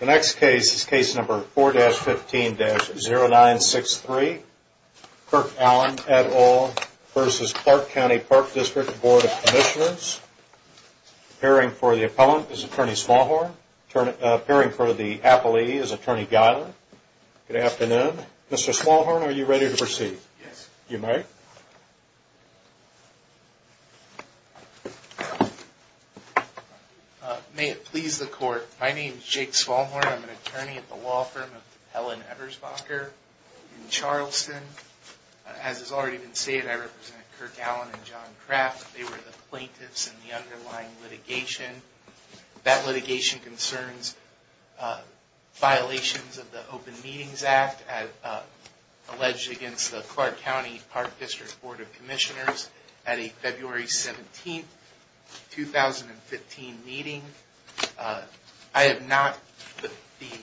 The next case is case number 4-15-0963. Kirk Allen et al. v. Clark County Park District Board of Commissioners. Appearing for the Appellant is Attorney Smallhorn. Appearing for the Appellee is Attorney Geiler. Good afternoon. Mr. Smallhorn, are you ready to proceed? Yes. You may. May it please the Court. My name is Jake Smallhorn. I'm an attorney at the law firm of Helen Ebersbacher in Charleston. As has already been stated, I represent Kirk Allen and John Kraft. They were the plaintiffs in the underlying litigation. That litigation concerns violations of the Open Meetings Act alleged against the Clark County Park District Board of Commissioners at a February 17, 2015 meeting. The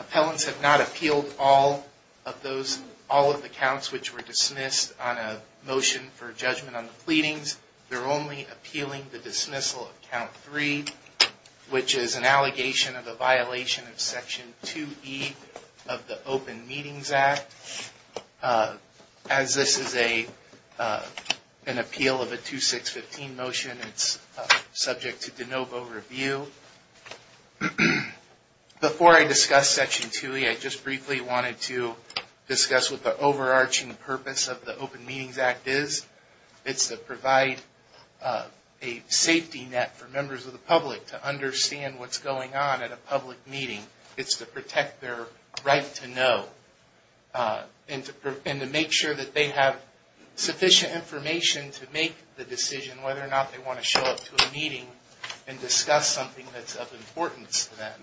appellants have not appealed all of the counts which were dismissed on a motion for judgment on the pleadings. They're only appealing the dismissal of Count 3, which is an allegation of a violation of Section 2E of the Open Meetings Act. As this is an appeal of a 2-6-15 motion, it's subject to de novo review. Before I discuss Section 2E, I just briefly wanted to discuss what the overarching purpose of the Open Meetings Act is. It's to provide a safety net for members of the public to understand what's going on at a public meeting. It's to protect their right to know and to make sure that they have sufficient information to make the decision whether or not they want to show up to a meeting and discuss something that's of importance to them.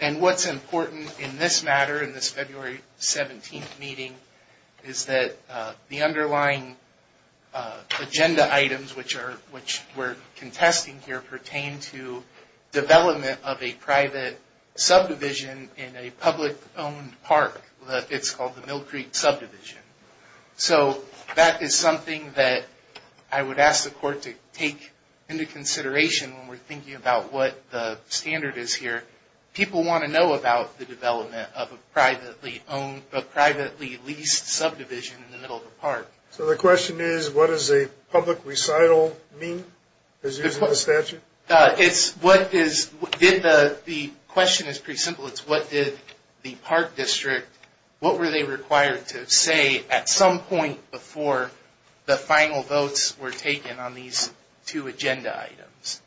And what's important in this matter, in this February 17 meeting, is that the underlying agenda items which we're contesting here pertain to development of a private subdivision in a public-owned park. It's called the Mill Creek Subdivision. So that is something that I would ask the Court to take into consideration when we're thinking about what the standard is here. People want to know about the development of a privately-owned, a privately-leased subdivision in the middle of the park. So the question is, what does a public recital mean as used in the statute? The question is pretty simple. It's what did the park district, what were they required to say at some point before the final votes were taken on these two agenda items?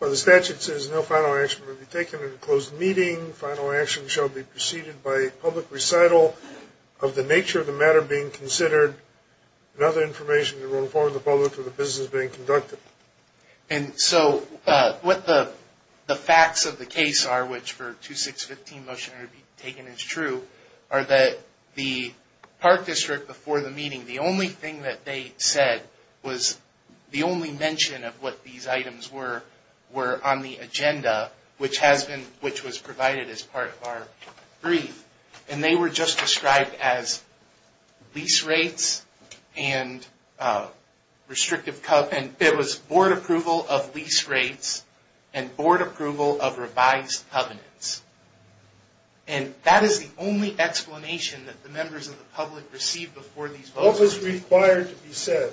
Well, the statute says no final action will be taken in a closed meeting. Final action shall be preceded by a public recital of the nature of the matter being considered and other information to inform the public of the business being conducted. And so what the facts of the case are, which for 2615 motion to be taken is true, are that the park district before the meeting, the only thing that they said was the only mention of what these items were on the agenda, which was provided as part of our brief. And they were just described as lease rates and restrictive covenants. It was board approval of lease rates and board approval of revised covenants. And that is the only explanation that the members of the public received before these votes. What was required to be said?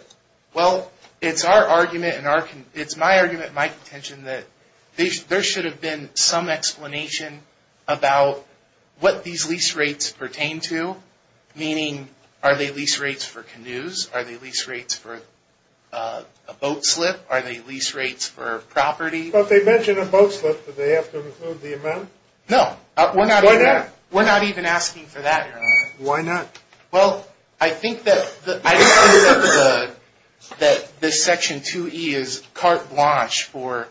Well, it's our argument and it's my argument and my contention that there should have been some explanation about what these lease rates pertain to, meaning are they lease rates for canoes? Are they lease rates for a boat slip? Are they lease rates for property? Well, if they mention a boat slip, do they have to include the amount? No. Why not? We're not even asking for that, Your Honor. Why not? Well, I think that this Section 2E is carte blanche for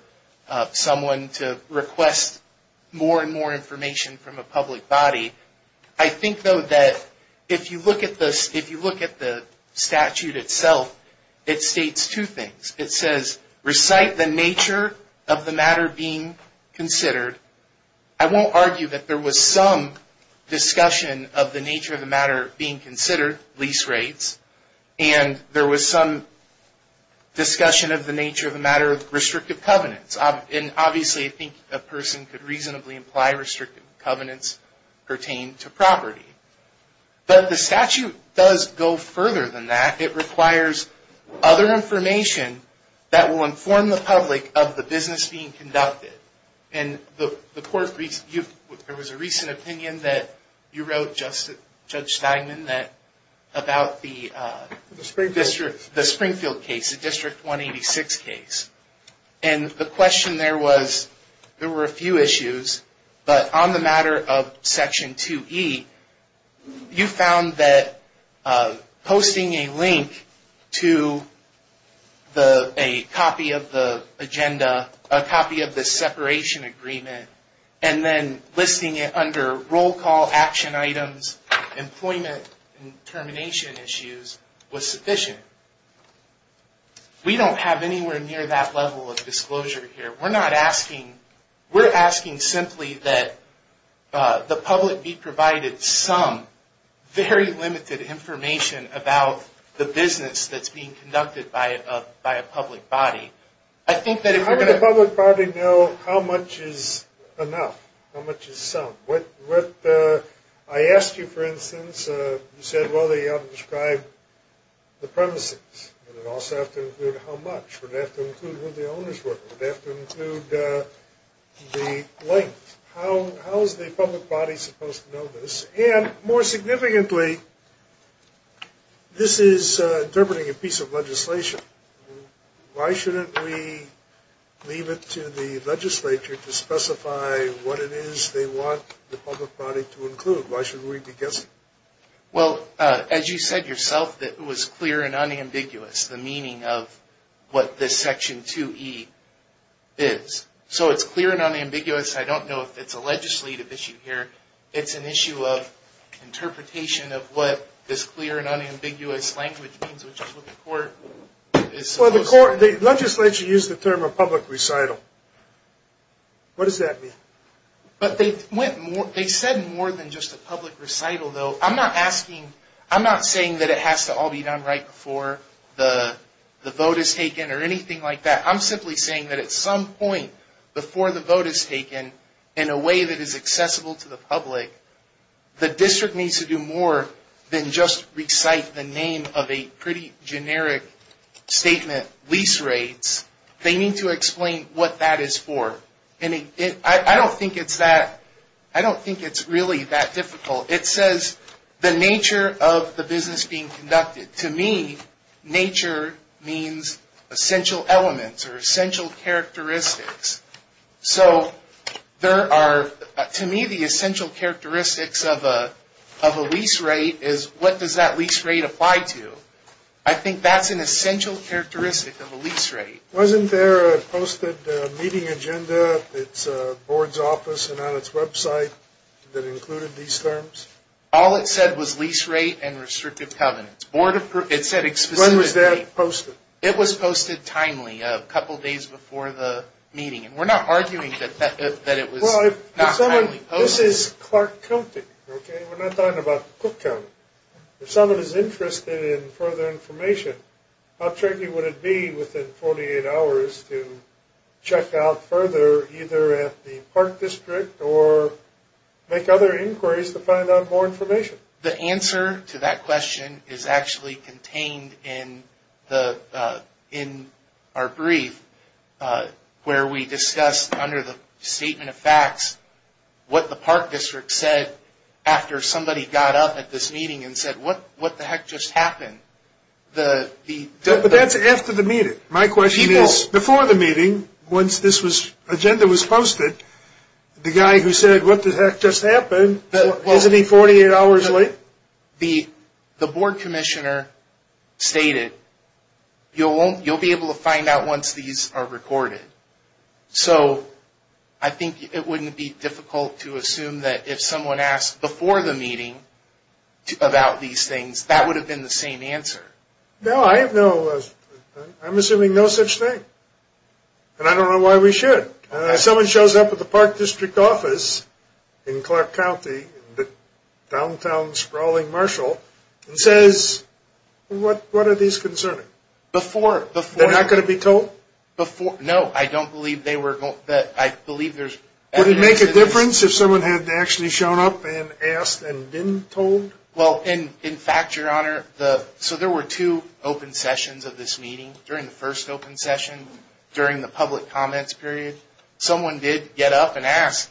someone to request more and more information from a public body. I think, though, that if you look at the statute itself, it states two things. It says, recite the nature of the matter being considered. I won't argue that there was some discussion of the nature of the matter being considered, lease rates, and there was some discussion of the nature of the matter of restrictive covenants. Obviously, I think a person could reasonably imply restrictive covenants pertain to property. But the statute does go further than that. It requires other information that will inform the public of the business being conducted. There was a recent opinion that you wrote, Judge Steinman, about the Springfield case, the District 186 case. And the question there was, there were a few issues, but on the matter of agenda, a copy of the separation agreement, and then listing it under roll call, action items, employment, and termination issues was sufficient. We don't have anywhere near that level of disclosure here. We're asking simply that the public be provided some very limited information about the business that's being conducted by a public body. How would the public body know how much is enough? How much is some? I asked you, for instance, you said, well, they ought to describe the premises. Would it also have to include how much? Would it have to include who the owners were? Would it have to include the length? How is the public body supposed to know this? And more significantly, this is interpreting a piece of legislation. Why shouldn't we leave it to the legislature to specify what it is they want the public body to include? Why should we be guessing? Well, as you said yourself, it was clear and unambiguous, the meaning of what this Section 2E is. So it's clear and unambiguous. I don't know if it's a legislative issue here. It's an issue of interpretation of what this clear and unambiguous language means, which is what the court is supposed to do. Well, the legislature used the term of public recital. What does that mean? But they said more than just a public recital, though. I'm not saying that it has to all be done right before the vote is taken or anything like that. I'm simply saying that at some point before the vote is taken in a way that is accessible to the public, the district needs to do more than just recite the name of a pretty generic statement, lease rates. They need to explain what that is for. I don't think it's really that difficult. It says the nature of the business being conducted. To me, nature means essential elements or essential characteristics. So to me, the essential characteristics of a lease rate is what does that lease rate apply to? I think that's an essential characteristic of a lease rate. Wasn't there a posted meeting agenda at the board's office and on its website that included these terms? All it said was lease rate and restrictive covenants. When was that posted? It was posted timely, a couple days before the meeting. We're not arguing that it was not timely posted. This is Clark County. We're not talking about Cook County. If someone is interested in further information, how tricky would it be within 48 hours to check out further either at the park district or make other inquiries to find out more information? The answer to that question is actually contained in our brief where we discussed under the statement of facts what the park district said after somebody got up at this meeting and said, what the heck just happened? That's after the meeting. My question is, before the meeting, once this agenda was posted, the guy who said, what the heck just happened, isn't he 48 hours late? The board commissioner stated, you'll be able to find out once these are recorded. I think it wouldn't be difficult to assume that if someone asked before the meeting about these things, that would have been the same answer. No, I'm assuming no such thing. I don't know why we should. If someone shows up at the park district office in Clark County, the downtown sprawling marshal, and says, what are these concerning? Before. They're not going to be told? No, I don't believe they were. Would it make a difference if someone had actually shown up and asked and been told? In fact, your honor, there were two open sessions of this meeting. During the first open session, during the public comments period, someone did get up and ask,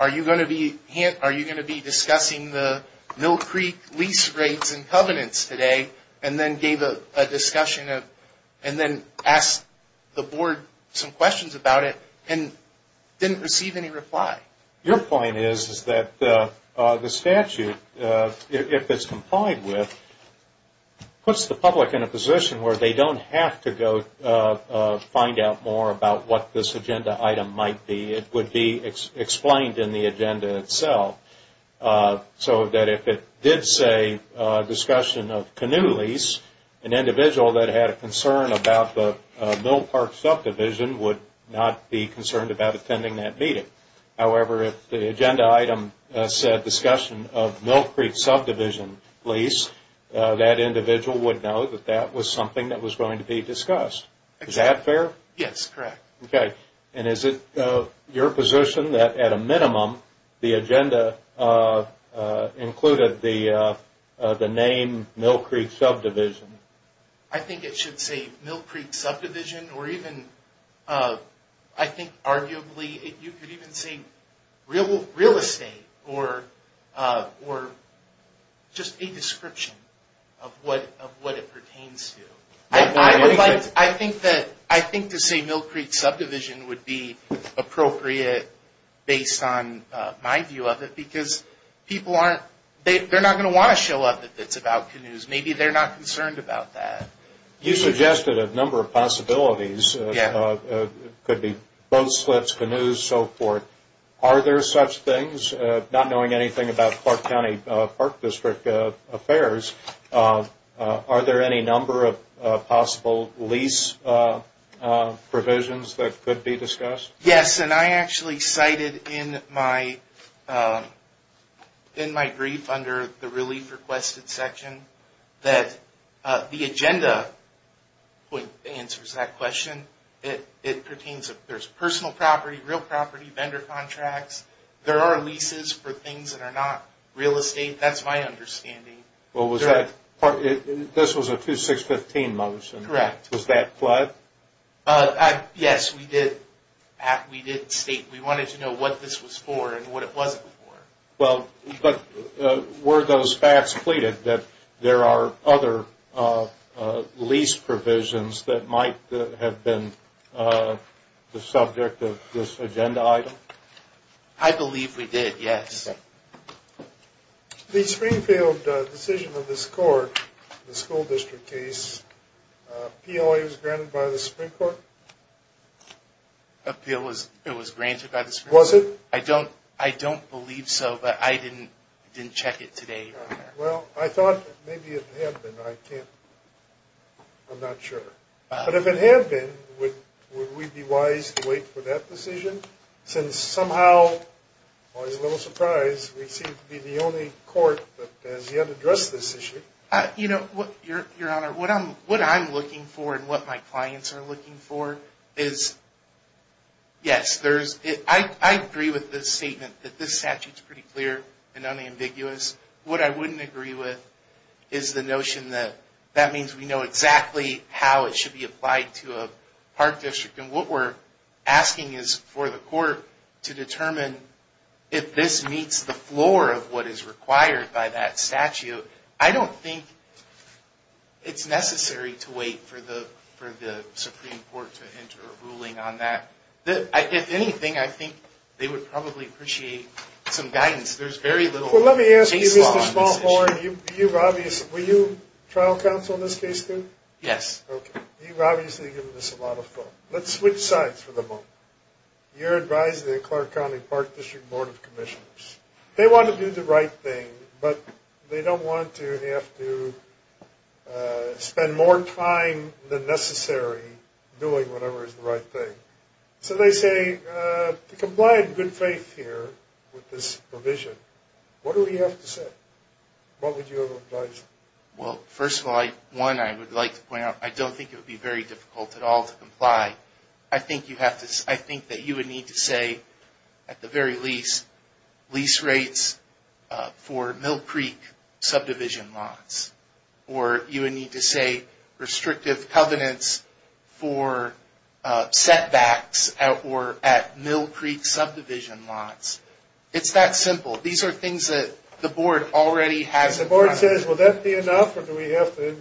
are you going to be discussing the Mill Creek lease rates and covenants today? And then gave a discussion and then asked the board some questions about it and didn't receive any reply. Your point is that the statute, if it's complied with, puts the public in a position where they don't have to go find out more about what this agenda item might be. It would be explained in the agenda itself. So that if it did say discussion of canoe lease, an individual that had a concern about the Mill Park subdivision would not be concerned about attending that meeting. However, if the agenda item said discussion of Mill Creek subdivision lease, that individual would know that that was something that was going to be discussed. Is that fair? Yes, correct. Okay. And is it your position that at a minimum the agenda included the name Mill Creek subdivision? I think it should say Mill Creek subdivision or even I think arguably you could even say real estate or just a description of what it pertains to. I think to say Mill Creek subdivision would be appropriate based on my view of it because people aren't, they're not going to want to show up if it's about canoes. Maybe they're not concerned about that. You suggested a number of possibilities. It could be boat slips, canoes, so forth. Are there such things? Not knowing anything about Clark County Park District affairs, are there any number of possible lease provisions that could be discussed? Yes. And I actually cited in my brief under the relief requested section that the agenda answers that question. It pertains, there's personal property, real property, vendor contracts. There are leases for things that are not real estate. That's my understanding. This was a 2-6-15 motion. Correct. Was that fled? Yes, we did state we wanted to know what this was for and what it wasn't for. But were those facts pleaded that there are other lease provisions that might have been the subject of this agenda item? I believe we did, yes. The Springfield decision of this court, the school district case, PLA was granted by the Supreme Court? It was granted by the Supreme Court. Was it? I don't believe so, but I didn't check it today. Well, I thought maybe it had been. I can't, I'm not sure. But if it had been, would we be wise to wait for that decision? Since somehow, I was a little surprised, we seem to be the only court that has yet addressed this issue. You know, Your Honor, what I'm looking for and what my clients are looking for is, yes, I agree with the statement that this statute is pretty clear and unambiguous. What I wouldn't agree with is the notion that that means we know exactly how it should be applied to a park district. And what we're asking is for the court to determine if this meets the floor of what is required by that statute. I don't think it's necessary to wait for the Supreme Court to enter a ruling on that. If anything, I think they would probably appreciate some guidance. There's very little case law on this issue. Well, let me ask you, Mr. Smallhorn. Were you trial counsel in this case, too? Yes. Okay. You've obviously given this a lot of thought. Let's switch sides for the moment. You're advising the Clark County Park District Board of Commissioners. They want to do the right thing, but they don't want to have to spend more time than necessary doing whatever is the right thing. So they say, to comply in good faith here with this provision, what do we have to say? What would you advise them? Well, first of all, one I would like to point out, I don't think it would be very difficult at all to comply. I think that you would need to say, at the very least, lease rates for Mill Creek subdivision lots. Or you would need to say restrictive covenants for setbacks at Mill Creek subdivision lots. It's that simple. These are things that the board already has in mind. The board says, will that be enough, or do we have to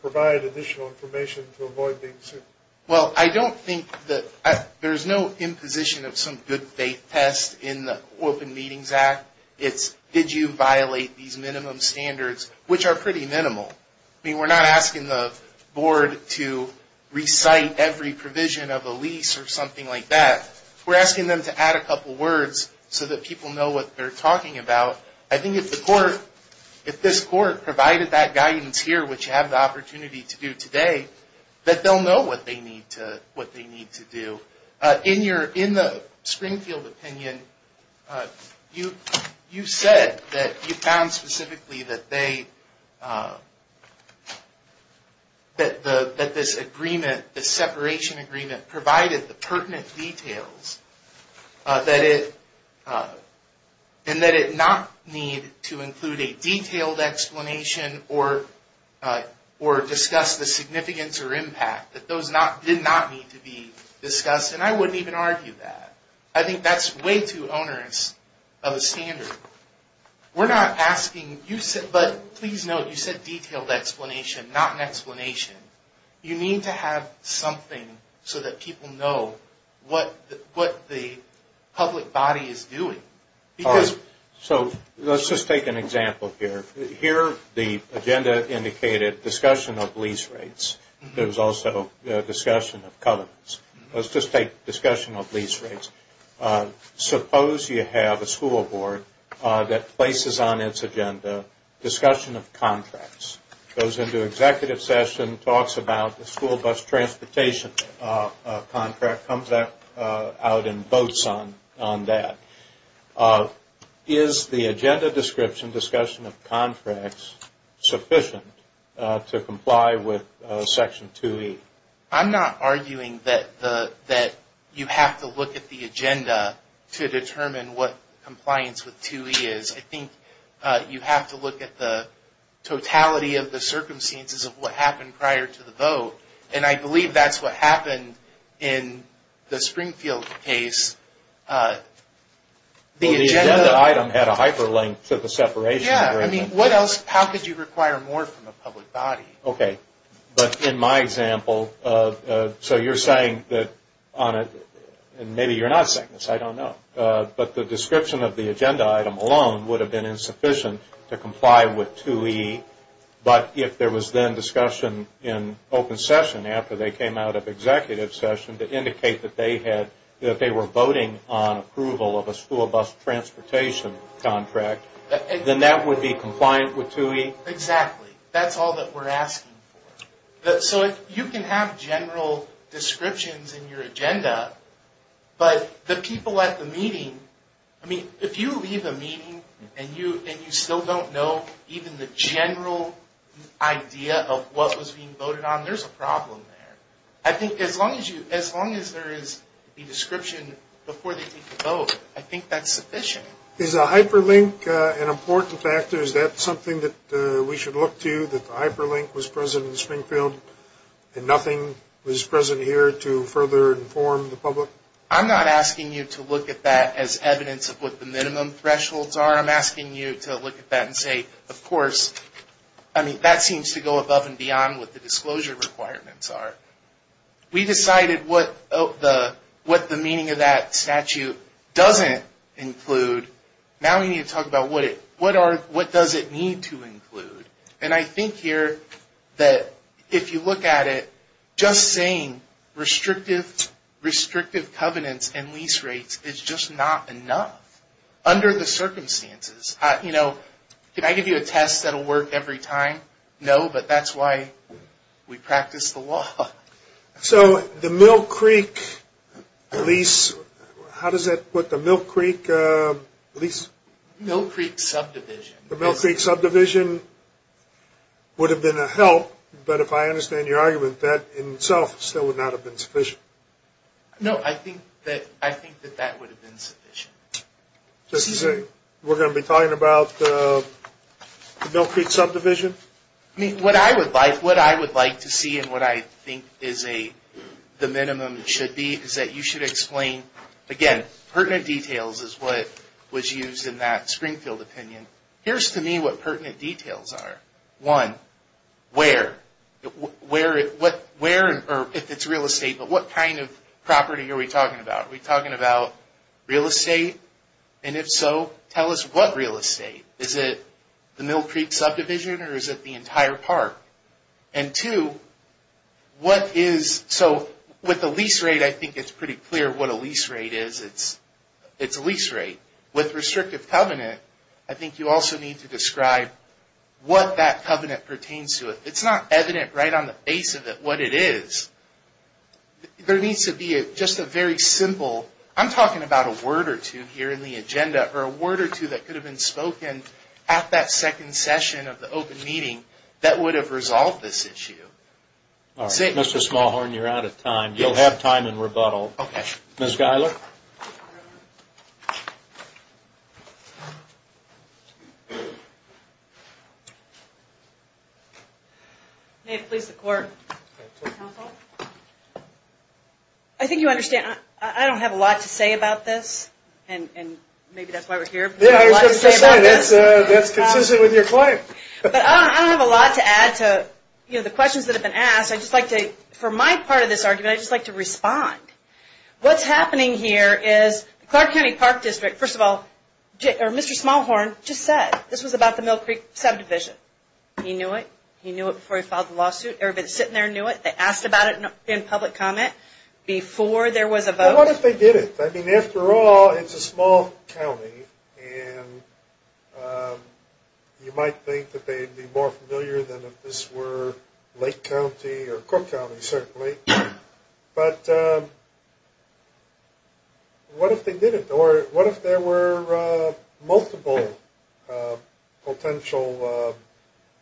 provide additional information to avoid being sued? Well, I don't think that there's no imposition of some good faith test in the Open Meetings Act. It's did you violate these minimum standards, which are pretty minimal. I mean, we're not asking the board to recite every provision of a lease or something like that. We're asking them to add a couple words so that people know what they're talking about. I think if this court provided that guidance here, which you have the opportunity to do today, that they'll know what they need to do. In the Springfield opinion, you said that you found specifically that this agreement, the separation agreement, provided the pertinent details and that it not need to include a detailed explanation or discuss the significance or impact, that those did not need to be discussed. And I wouldn't even argue that. I think that's way too onerous of a standard. We're not asking you, but please note, you said detailed explanation, not an explanation. You need to have something so that people know what the public body is doing. So let's just take an example here. Here the agenda indicated discussion of lease rates. There was also discussion of covenants. Let's just take discussion of lease rates. Suppose you have a school board that places on its agenda discussion of school bus transportation contract, comes out in votes on that. Is the agenda description discussion of contracts sufficient to comply with Section 2E? I'm not arguing that you have to look at the agenda to determine what compliance with 2E is. I think you have to look at the totality of the circumstances of what happened prior to the vote. And I believe that's what happened in the Springfield case. The agenda item had a hyperlink to the separation. Yeah. I mean, what else? How could you require more from the public body? Okay. But in my example, so you're saying that on it, and maybe you're not saying this, I don't know, but the description of the agenda item alone would have been insufficient to comply with 2E. But if there was then discussion in open session after they came out of executive session to indicate that they were voting on approval of a school bus transportation contract, then that would be compliant with 2E? Exactly. That's all that we're asking for. So you can have general descriptions in your agenda, but the people at the meeting, I mean, if you leave a meeting and you still don't know even the general idea of what was being voted on, there's a problem there. I think as long as there is a description before they take the vote, I think that's sufficient. Is a hyperlink an important factor? Is that something that we should look to, that the hyperlink was present in Springfield and nothing was present here to further inform the public? I'm not asking you to look at that as evidence of what the minimum thresholds are. I'm asking you to look at that and say, of course, that seems to go above and beyond what the disclosure requirements are. We decided what the meaning of that statute doesn't include. Now we need to talk about what does it need to include. And I think here that if you look at it, just saying restrictive covenants and lease rates is just not enough under the circumstances. You know, can I give you a test that will work every time? No, but that's why we practice the law. So the Mill Creek lease, how does that put the Mill Creek lease? Mill Creek subdivision. The Mill Creek subdivision would have been a help, but if I understand your argument, that in itself still would not have been sufficient. No, I think that that would have been sufficient. Just to say, we're going to be talking about the Mill Creek subdivision? What I would like to see and what I think is the minimum should be is that you should explain, again, pertinent details is what was used in that Springfield opinion, here's to me what pertinent details are. One, where? Where or if it's real estate, but what kind of property are we talking about? Are we talking about real estate? And if so, tell us what real estate? Is it the Mill Creek subdivision or is it the entire park? And two, what is, so with the lease rate, I think it's pretty clear what a lease rate is. It's a lease rate. With restrictive covenant, I think you also need to describe what that covenant pertains to. It's not evident right on the face of it what it is. There needs to be just a very simple, I'm talking about a word or two here in the agenda, or a word or two that could have been spoken at that second session of the open meeting that would have resolved this issue. Mr. Smallhorn, you're out of time. You'll have time in rebuttal. Okay. Ms. Geiler. May it please the Court. Counsel. I think you understand I don't have a lot to say about this, and maybe that's why we're here. Yeah, I was going to say that's consistent with your claim. But I don't have a lot to add to the questions that have been asked. For my part of this argument, I'd just like to respond. What's happening here is Clark County Park District, first of all, or Mr. Smallhorn just said this was about the Mill Creek subdivision. He knew it. He knew it before he filed the lawsuit. Everybody sitting there knew it. They asked about it in public comment before there was a vote. Well, what if they didn't? I mean, after all, it's a small county, and you might think that they'd be more familiar than if this were Lake County or Cook County, certainly. But what if they didn't? Or what if there were multiple potential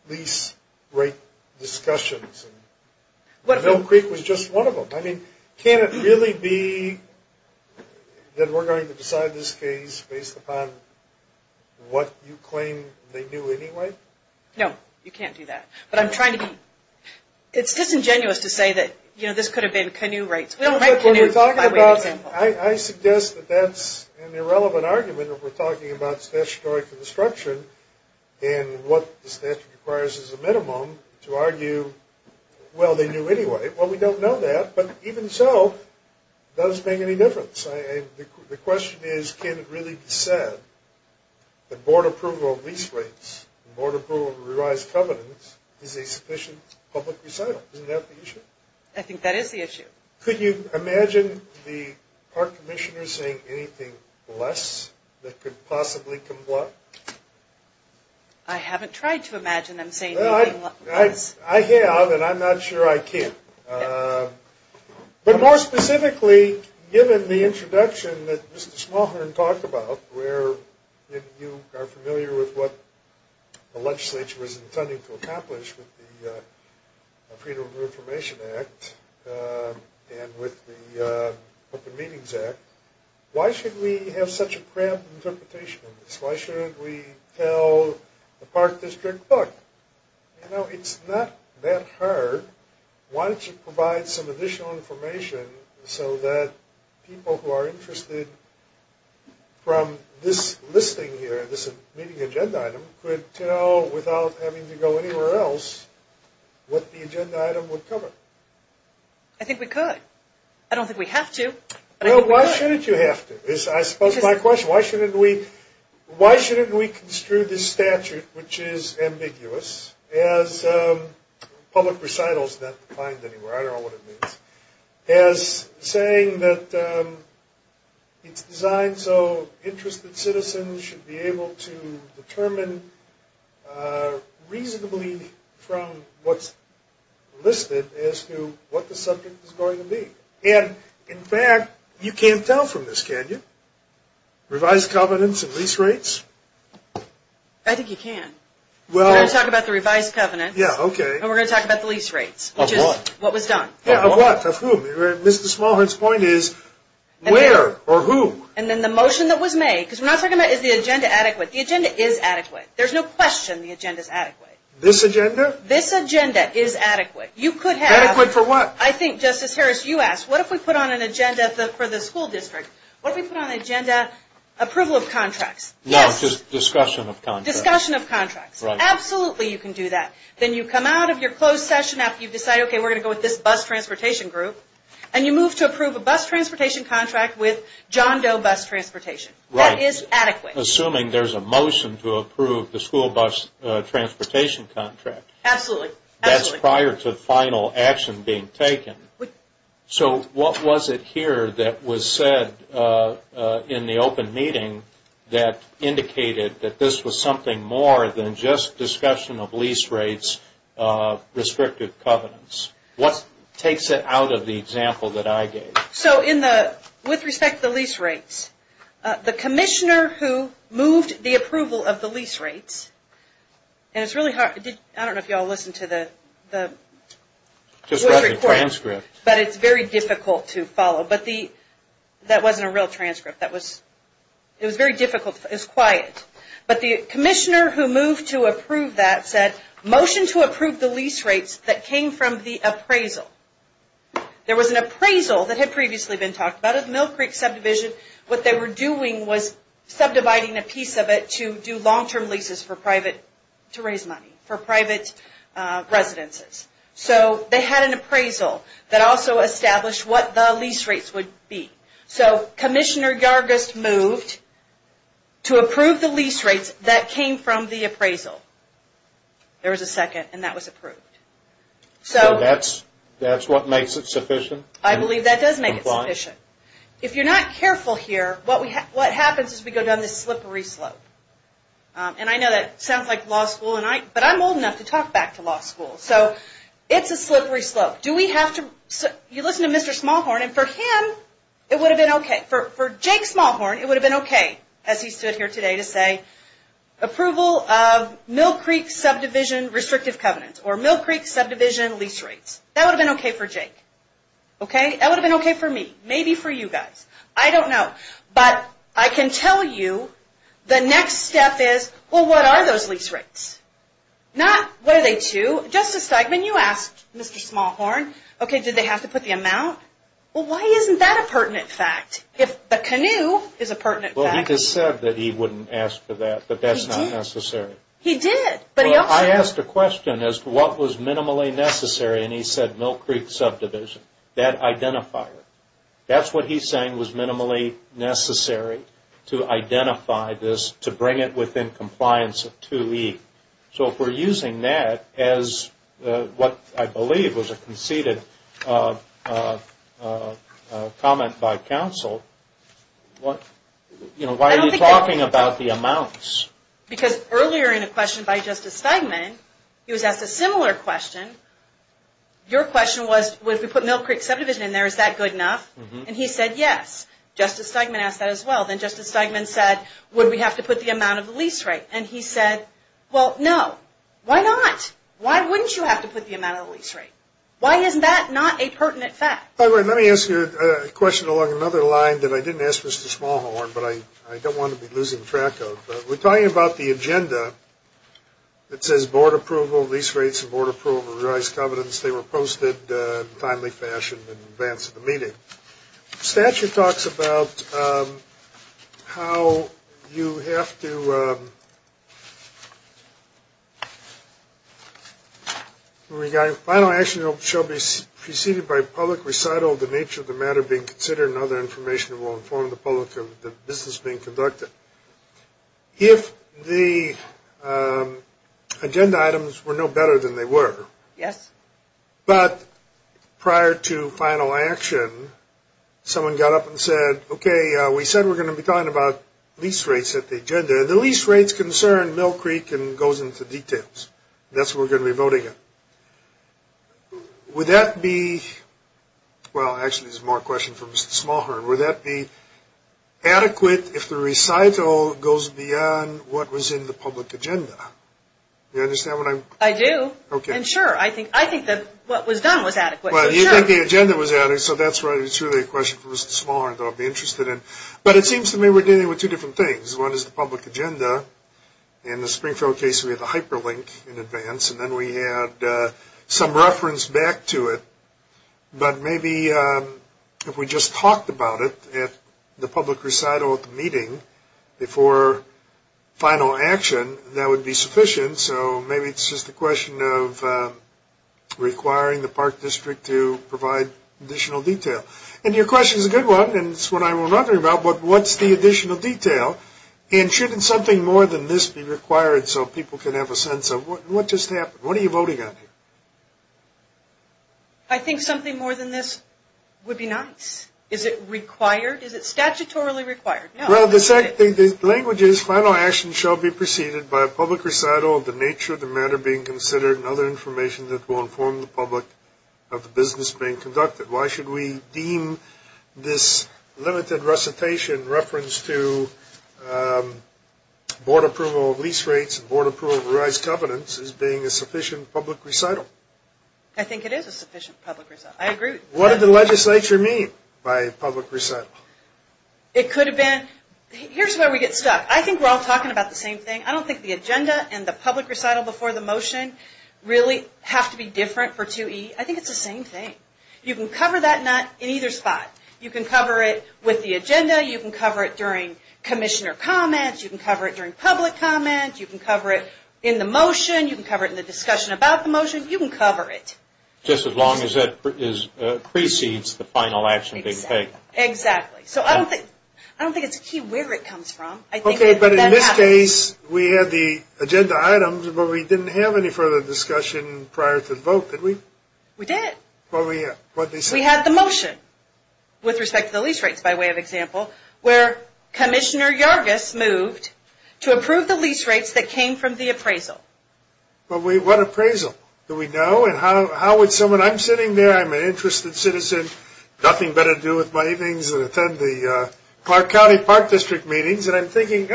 lease rate discussions and Mill Creek was just one of them? I mean, can it really be that we're going to decide this case based upon what you claim they knew anyway? No, you can't do that. But I'm trying to be – it's disingenuous to say that this could have been canoe rates. We don't write canoes by way of example. I suggest that that's an irrelevant argument if we're talking about statutory construction and what the statute requires as a minimum to argue, well, they knew anyway. Well, we don't know that, but even so, it doesn't make any difference. The question is, can it really be said that board approval of lease rates, board approval of revised covenants is a sufficient public recital? Isn't that the issue? I think that is the issue. Could you imagine the park commissioner saying anything less that could possibly comply? I haven't tried to imagine him saying anything less. I have, and I'm not sure I can. But more specifically, given the introduction that Mr. Smallhorn talked about, where you are familiar with what the legislature was intending to accomplish with the Freedom of Information Act and with the Open Meetings Act, why should we have such a cramped interpretation of this? Why shouldn't we tell the park district, look, you know, it's not that hard, why don't you provide some additional information so that people who are interested from this listing here, this meeting agenda item, could tell without having to go anywhere else what the agenda item would cover. I think we could. I don't think we have to. Well, why shouldn't you have to is, I suppose, my question. Why shouldn't we construe this statute, which is ambiguous, as public recitals, not defined anywhere, I don't know what it means, as saying that it's designed so interested citizens should be able to determine reasonably from what's listed as to what the subject is going to be. And, in fact, you can't tell from this, can you? Revised covenants and lease rates? I think you can. We're going to talk about the revised covenants. Yeah, okay. And we're going to talk about the lease rates. Of what? Which is what was done. Of what? Of whom? Mr. Smallhorn's point is, where or whom? And then the motion that was made, because we're not talking about is the agenda adequate, the agenda is adequate. There's no question the agenda is adequate. This agenda? This agenda is adequate. Adequate for what? I think, Justice Harris, you asked, what if we put on an agenda for the school district? What if we put on an agenda approval of contracts? No, just discussion of contracts. Discussion of contracts. Right. Absolutely you can do that. Then you come out of your closed session after you've decided, okay, we're going to go with this bus transportation group, and you move to approve a bus transportation contract with John Doe Bus Transportation. Right. That is adequate. Assuming there's a motion to approve the school bus transportation contract. Absolutely. But that's prior to final action being taken. So what was it here that was said in the open meeting that indicated that this was something more than just discussion of lease rates, restrictive covenants? What takes it out of the example that I gave? So with respect to the lease rates, the commissioner who moved the approval of the lease rates, and it's really hard. I don't know if you all listened to the recording. Just read the transcript. But it's very difficult to follow. But that wasn't a real transcript. It was very difficult. It was quiet. But the commissioner who moved to approve that said, motion to approve the lease rates that came from the appraisal. There was an appraisal that had previously been talked about at Mill Creek subdivision. What they were doing was subdividing a piece of it to do long-term leases for private, to raise money for private residences. So they had an appraisal that also established what the lease rates would be. So Commissioner Yargus moved to approve the lease rates that came from the appraisal. There was a second, and that was approved. So that's what makes it sufficient? I believe that does make it sufficient. If you're not careful here, what happens is we go down this slippery slope. And I know that sounds like law school, but I'm old enough to talk back to law school. So it's a slippery slope. You listen to Mr. Smallhorn, and for him, it would have been okay. For Jake Smallhorn, it would have been okay, as he stood here today, to say approval of Mill Creek subdivision restrictive covenants, or Mill Creek subdivision lease rates. That would have been okay for Jake. Okay? That would have been okay for me. Maybe for you guys. I don't know. But I can tell you the next step is, well, what are those lease rates? Not, what are they to? Justice Stegman, you asked Mr. Smallhorn, okay, did they have to put the amount? Well, why isn't that a pertinent fact? If the canoe is a pertinent fact. Well, he just said that he wouldn't ask for that, but that's not necessary. He did. Well, I asked a question as to what was minimally necessary, and he said Mill Creek subdivision, that identifier. That's what he's saying was minimally necessary to identify this, to bring it within compliance of 2E. So if we're using that as what I believe was a conceded comment by counsel, you know, why are you talking about the amounts? Because earlier in a question by Justice Stegman, he was asked a similar question. Your question was, would we put Mill Creek subdivision in there? Is that good enough? And he said yes. Justice Stegman asked that as well. Then Justice Stegman said, would we have to put the amount of the lease rate? And he said, well, no. Why not? Why wouldn't you have to put the amount of the lease rate? Why isn't that not a pertinent fact? Let me ask you a question along another line that I didn't ask Mr. Smallhorn, but I don't want to be losing track of. We're talking about the agenda that says board approval, lease rates, and board approval of revised covenants. They were posted in a timely fashion in advance of the meeting. The statute talks about how you have to, regarding final action shall be preceded by public recital of the nature of the matter being considered and other information that will inform the public of the business being conducted. If the agenda items were no better than they were, but prior to final action, someone got up and said, okay, we said we're going to be talking about lease rates at the agenda. The lease rates concern Mill Creek and goes into details. That's what we're going to be voting on. Would that be adequate if the recital goes beyond what was in the public agenda? Do you understand what I'm saying? I do, and sure. I think that what was done was adequate. Well, you think the agenda was adequate, so that's right. It's really a question for Mr. Smallhorn that I'd be interested in. But it seems to me we're dealing with two different things. One is the public agenda. In the Springfield case, we had the hyperlink in advance, and then we had some reference back to it. But maybe if we just talked about it at the public recital at the meeting before final action, that would be sufficient. So maybe it's just a question of requiring the Park District to provide additional detail. And your question is a good one, and it's what I was wondering about, but what's the additional detail? And shouldn't something more than this be required so people can have a sense of what just happened? What are you voting on here? I think something more than this would be nice. Is it required? Is it statutorily required? Well, the language is final action shall be preceded by a public recital of the nature of the matter being considered and other information that will inform the public of the business being conducted. Why should we deem this limited recitation reference to board approval of lease rates and board approval of revised covenants as being a sufficient public recital? I think it is a sufficient public recital. I agree. What did the legislature mean by public recital? It could have been, here's where we get stuck. I think we're all talking about the same thing. I don't think the agenda and the public recital before the motion really have to be different for 2E. I think it's the same thing. You can cover that in either spot. You can cover it with the agenda. You can cover it during commissioner comments. You can cover it during public comments. You can cover it in the motion. You can cover it in the discussion about the motion. You can cover it. Just as long as it precedes the final action being taken. Exactly. So I don't think it's a key where it comes from. Okay, but in this case, we had the agenda items, but we didn't have any further discussion prior to the vote, did we? We did. What did they say? We had the motion with respect to the lease rates, by way of example, where Commissioner Yargus moved to approve the lease rates that came from the appraisal. What appraisal? Do we know? And how would someone, I'm sitting there, I'm an interested citizen, nothing better to do with my evenings than attend the Clark County Park District meetings, and I'm thinking,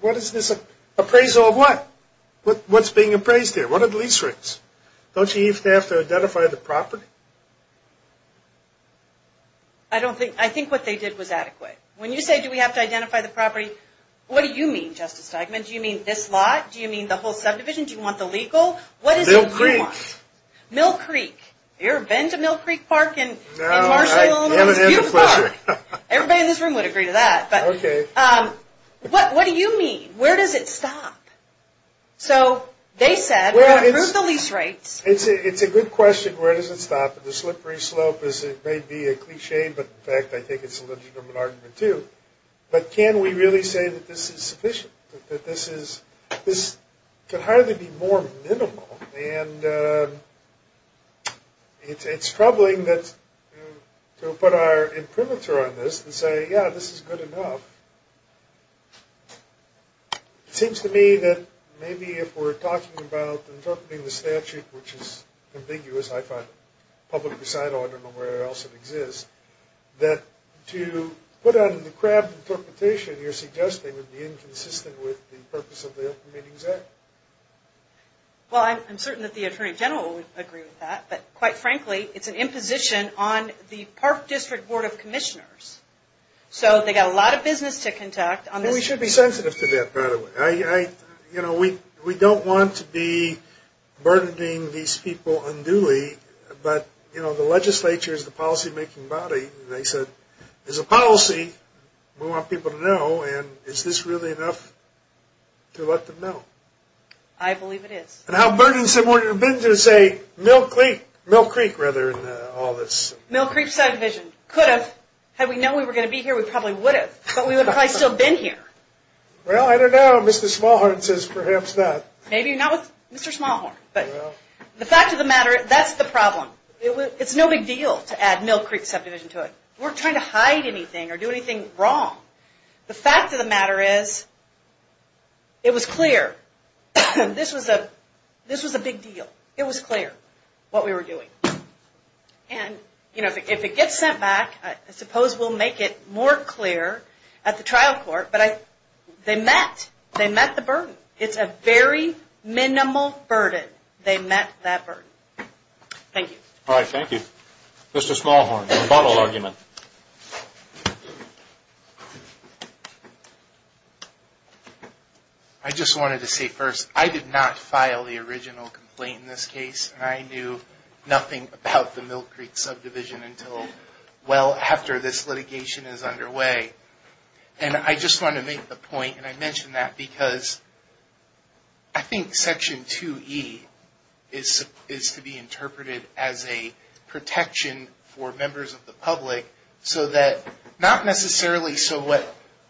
what is this appraisal of what? What's being appraised here? What are the lease rates? Don't you even have to identify the property? I think what they did was adequate. When you say, do we have to identify the property, what do you mean, Justice Steigman? Do you mean this lot? Do you mean the whole subdivision? Do you want the legal? Mill Creek. Mill Creek. You ever been to Mill Creek Park in Marshall, Illinois? It's a beautiful park. Everybody in this room would agree to that. Okay. What do you mean? Where does it stop? So they said, improve the lease rates. It's a good question, where does it stop? And the slippery slope may be a cliche, but, in fact, I think it's a legitimate argument, too. But can we really say that this is sufficient, that this can hardly be more minimal? And it's troubling to put our imprimatur on this and say, yeah, this is good enough. It seems to me that maybe if we're talking about interpreting the statute, which is ambiguous, I find it public recital, I don't know where else it exists, that to put it on the crabbed interpretation, you're suggesting would be inconsistent with the purpose of the Open Meetings Act. Well, I'm certain that the Attorney General would agree with that, but, quite frankly, it's an imposition on the Park District Board of Commissioners. So they've got a lot of business to conduct. And we should be sensitive to that, by the way. You know, we don't want to be burdening these people unduly, but, you know, the legislature is the policymaking body, and they said, there's a policy we want people to know, and is this really enough to let them know? I believe it is. And how burdensome would it have been to say Mill Creek, rather, in all this? Mill Creek Subdivision. Could have. Had we known we were going to be here, we probably would have. But we would have probably still been here. Well, I don't know. Mr. Smallhorn says perhaps not. Maybe not with Mr. Smallhorn. But the fact of the matter, that's the problem. It's no big deal to add Mill Creek Subdivision to it. We're not trying to hide anything or do anything wrong. The fact of the matter is, it was clear. This was a big deal. It was clear what we were doing. And, you know, if it gets sent back, I suppose we'll make it more clear at the trial court, but they met. They met the burden. It's a very minimal burden. They met that burden. Thank you. All right, thank you. Mr. Smallhorn, your final argument. I just wanted to say first, I did not file the original complaint in this case, and I knew nothing about the Mill Creek Subdivision until well after this litigation is underway. And I just wanted to make the point, and I mention that because I think Section 2E is to be interpreted as a protection for members of the public, so that not necessarily so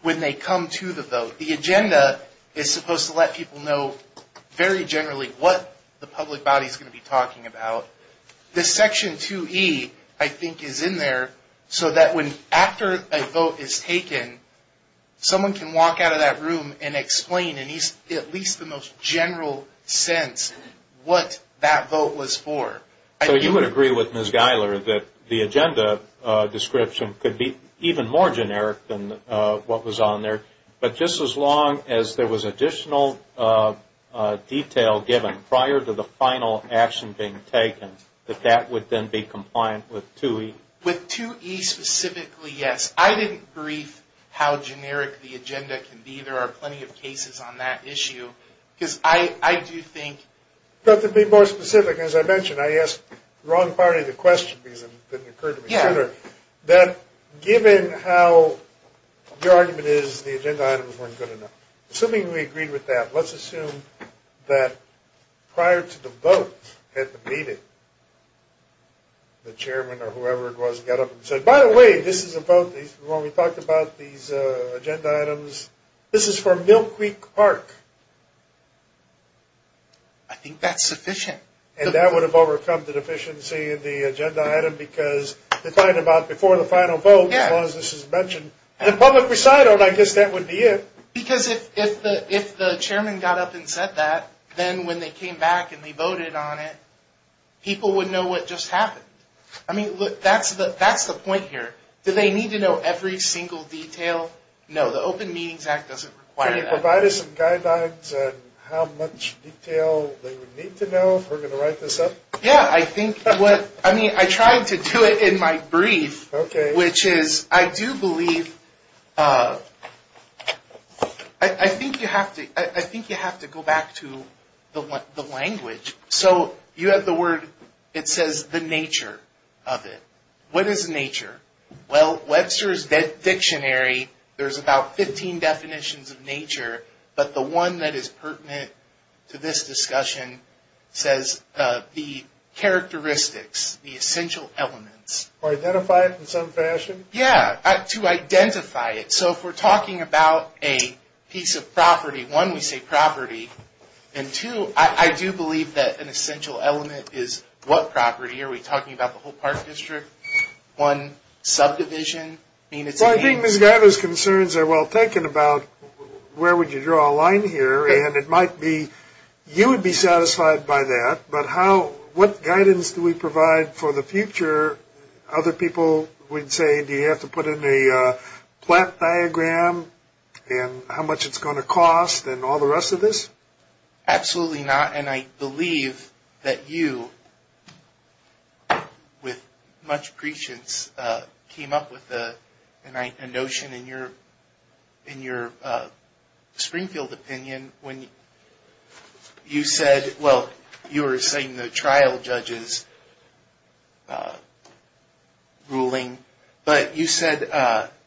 when they come to the vote. The agenda is supposed to let people know very generally what the public body is going to be talking about. This Section 2E, I think, is in there so that after a vote is taken, someone can walk out of that room and explain in at least the most general sense what that vote was for. So you would agree with Ms. Giler that the agenda description could be even more generic than what was on there, but just as long as there was additional detail given prior to the final action being taken, that that would then be compliant with 2E? With 2E specifically, yes. I didn't brief how generic the agenda can be. There are plenty of cases on that issue. Because I do think... To be more specific, as I mentioned, I asked the wrong party the question because it didn't occur to me sooner. Given how your argument is, the agenda items weren't good enough. Assuming we agreed with that, let's assume that prior to the vote at the meeting, the chairman or whoever it was got up and said, by the way, this is a vote, when we talked about these agenda items, this is for Mill Creek Park. I think that's sufficient. And that would have overcome the deficiency of the agenda item because to talk about before the final vote, as long as this is mentioned in a public recital, I guess that would be it. Because if the chairman got up and said that, then when they came back and they voted on it, people would know what just happened. I mean, that's the point here. Do they need to know every single detail? No, the Open Meetings Act doesn't require that. Can you provide us some guidelines on how much detail they would need to know if we're going to write this up? Yeah, I think what, I mean, I tried to do it in my brief, which is, I do believe, I think you have to go back to the language. So you have the word, it says the nature of it. What is nature? Well, Webster's Dictionary, there's about 15 definitions of nature, but the one that is pertinent to this discussion says the characteristics, the essential elements. To identify it in some fashion? Yeah, to identify it. So if we're talking about a piece of property, one, we say property, and two, I do believe that an essential element is what property? Are we talking about the whole park district? One, subdivision? Well, I think Ms. Guyver's concerns are well taken about where would you draw a line here, and it might be you would be satisfied by that, but how, what guidance do we provide for the future? Other people would say, do you have to put in a plat diagram and how much it's going to cost and all the rest of this? Absolutely not, and I believe that you, with much patience, came up with a notion in your Springfield opinion when you said, well, you were saying the trial judge's ruling, but you said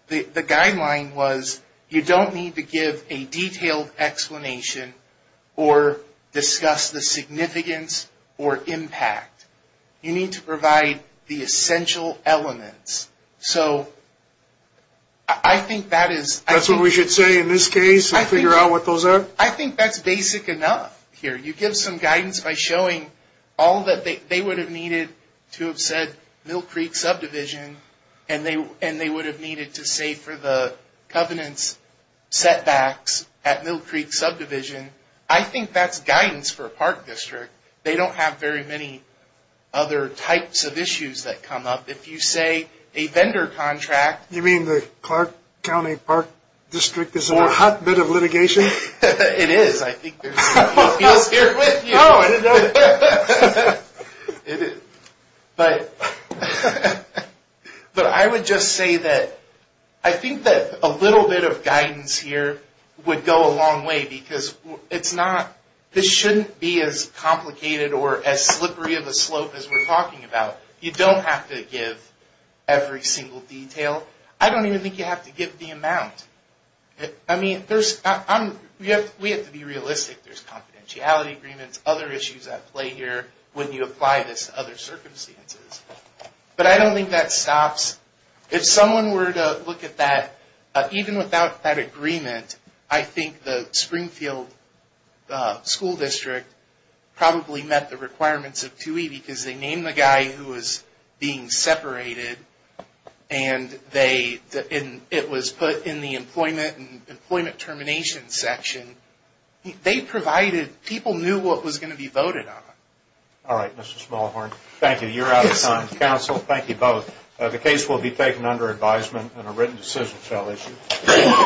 the guideline was you don't need to give a detailed explanation or discuss the significance or impact. You need to provide the essential elements. So I think that is... That's what we should say in this case and figure out what those are? I think that's basic enough here. You give some guidance by showing all that they would have needed to have said Mill Creek subdivision, and they would have needed to say for the covenants setbacks at Mill Creek subdivision. I think that's guidance for a park district. They don't have very many other types of issues that come up. If you say a vendor contract... You mean the Clark County Park District is in a hotbed of litigation? It is. I think there's... I was here with you. But I would just say that I think that a little bit of guidance here would go a long way, because this shouldn't be as complicated or as slippery of a slope as we're talking about. You don't have to give every single detail. I don't even think you have to give the amount. I mean, we have to be realistic. There's confidentiality agreements, other issues at play here when you apply this to other circumstances. But I don't think that stops... If someone were to look at that, even without that agreement, I think the Springfield School District probably met the requirements of 2E, because they named the guy who was being separated, and it was put in the employment termination section. They provided... People knew what was going to be voted on. All right, Mr. Smallhorn. Thank you. You're out of time. Counsel, thank you both. The case will be taken under advisement and a written decision shall issue.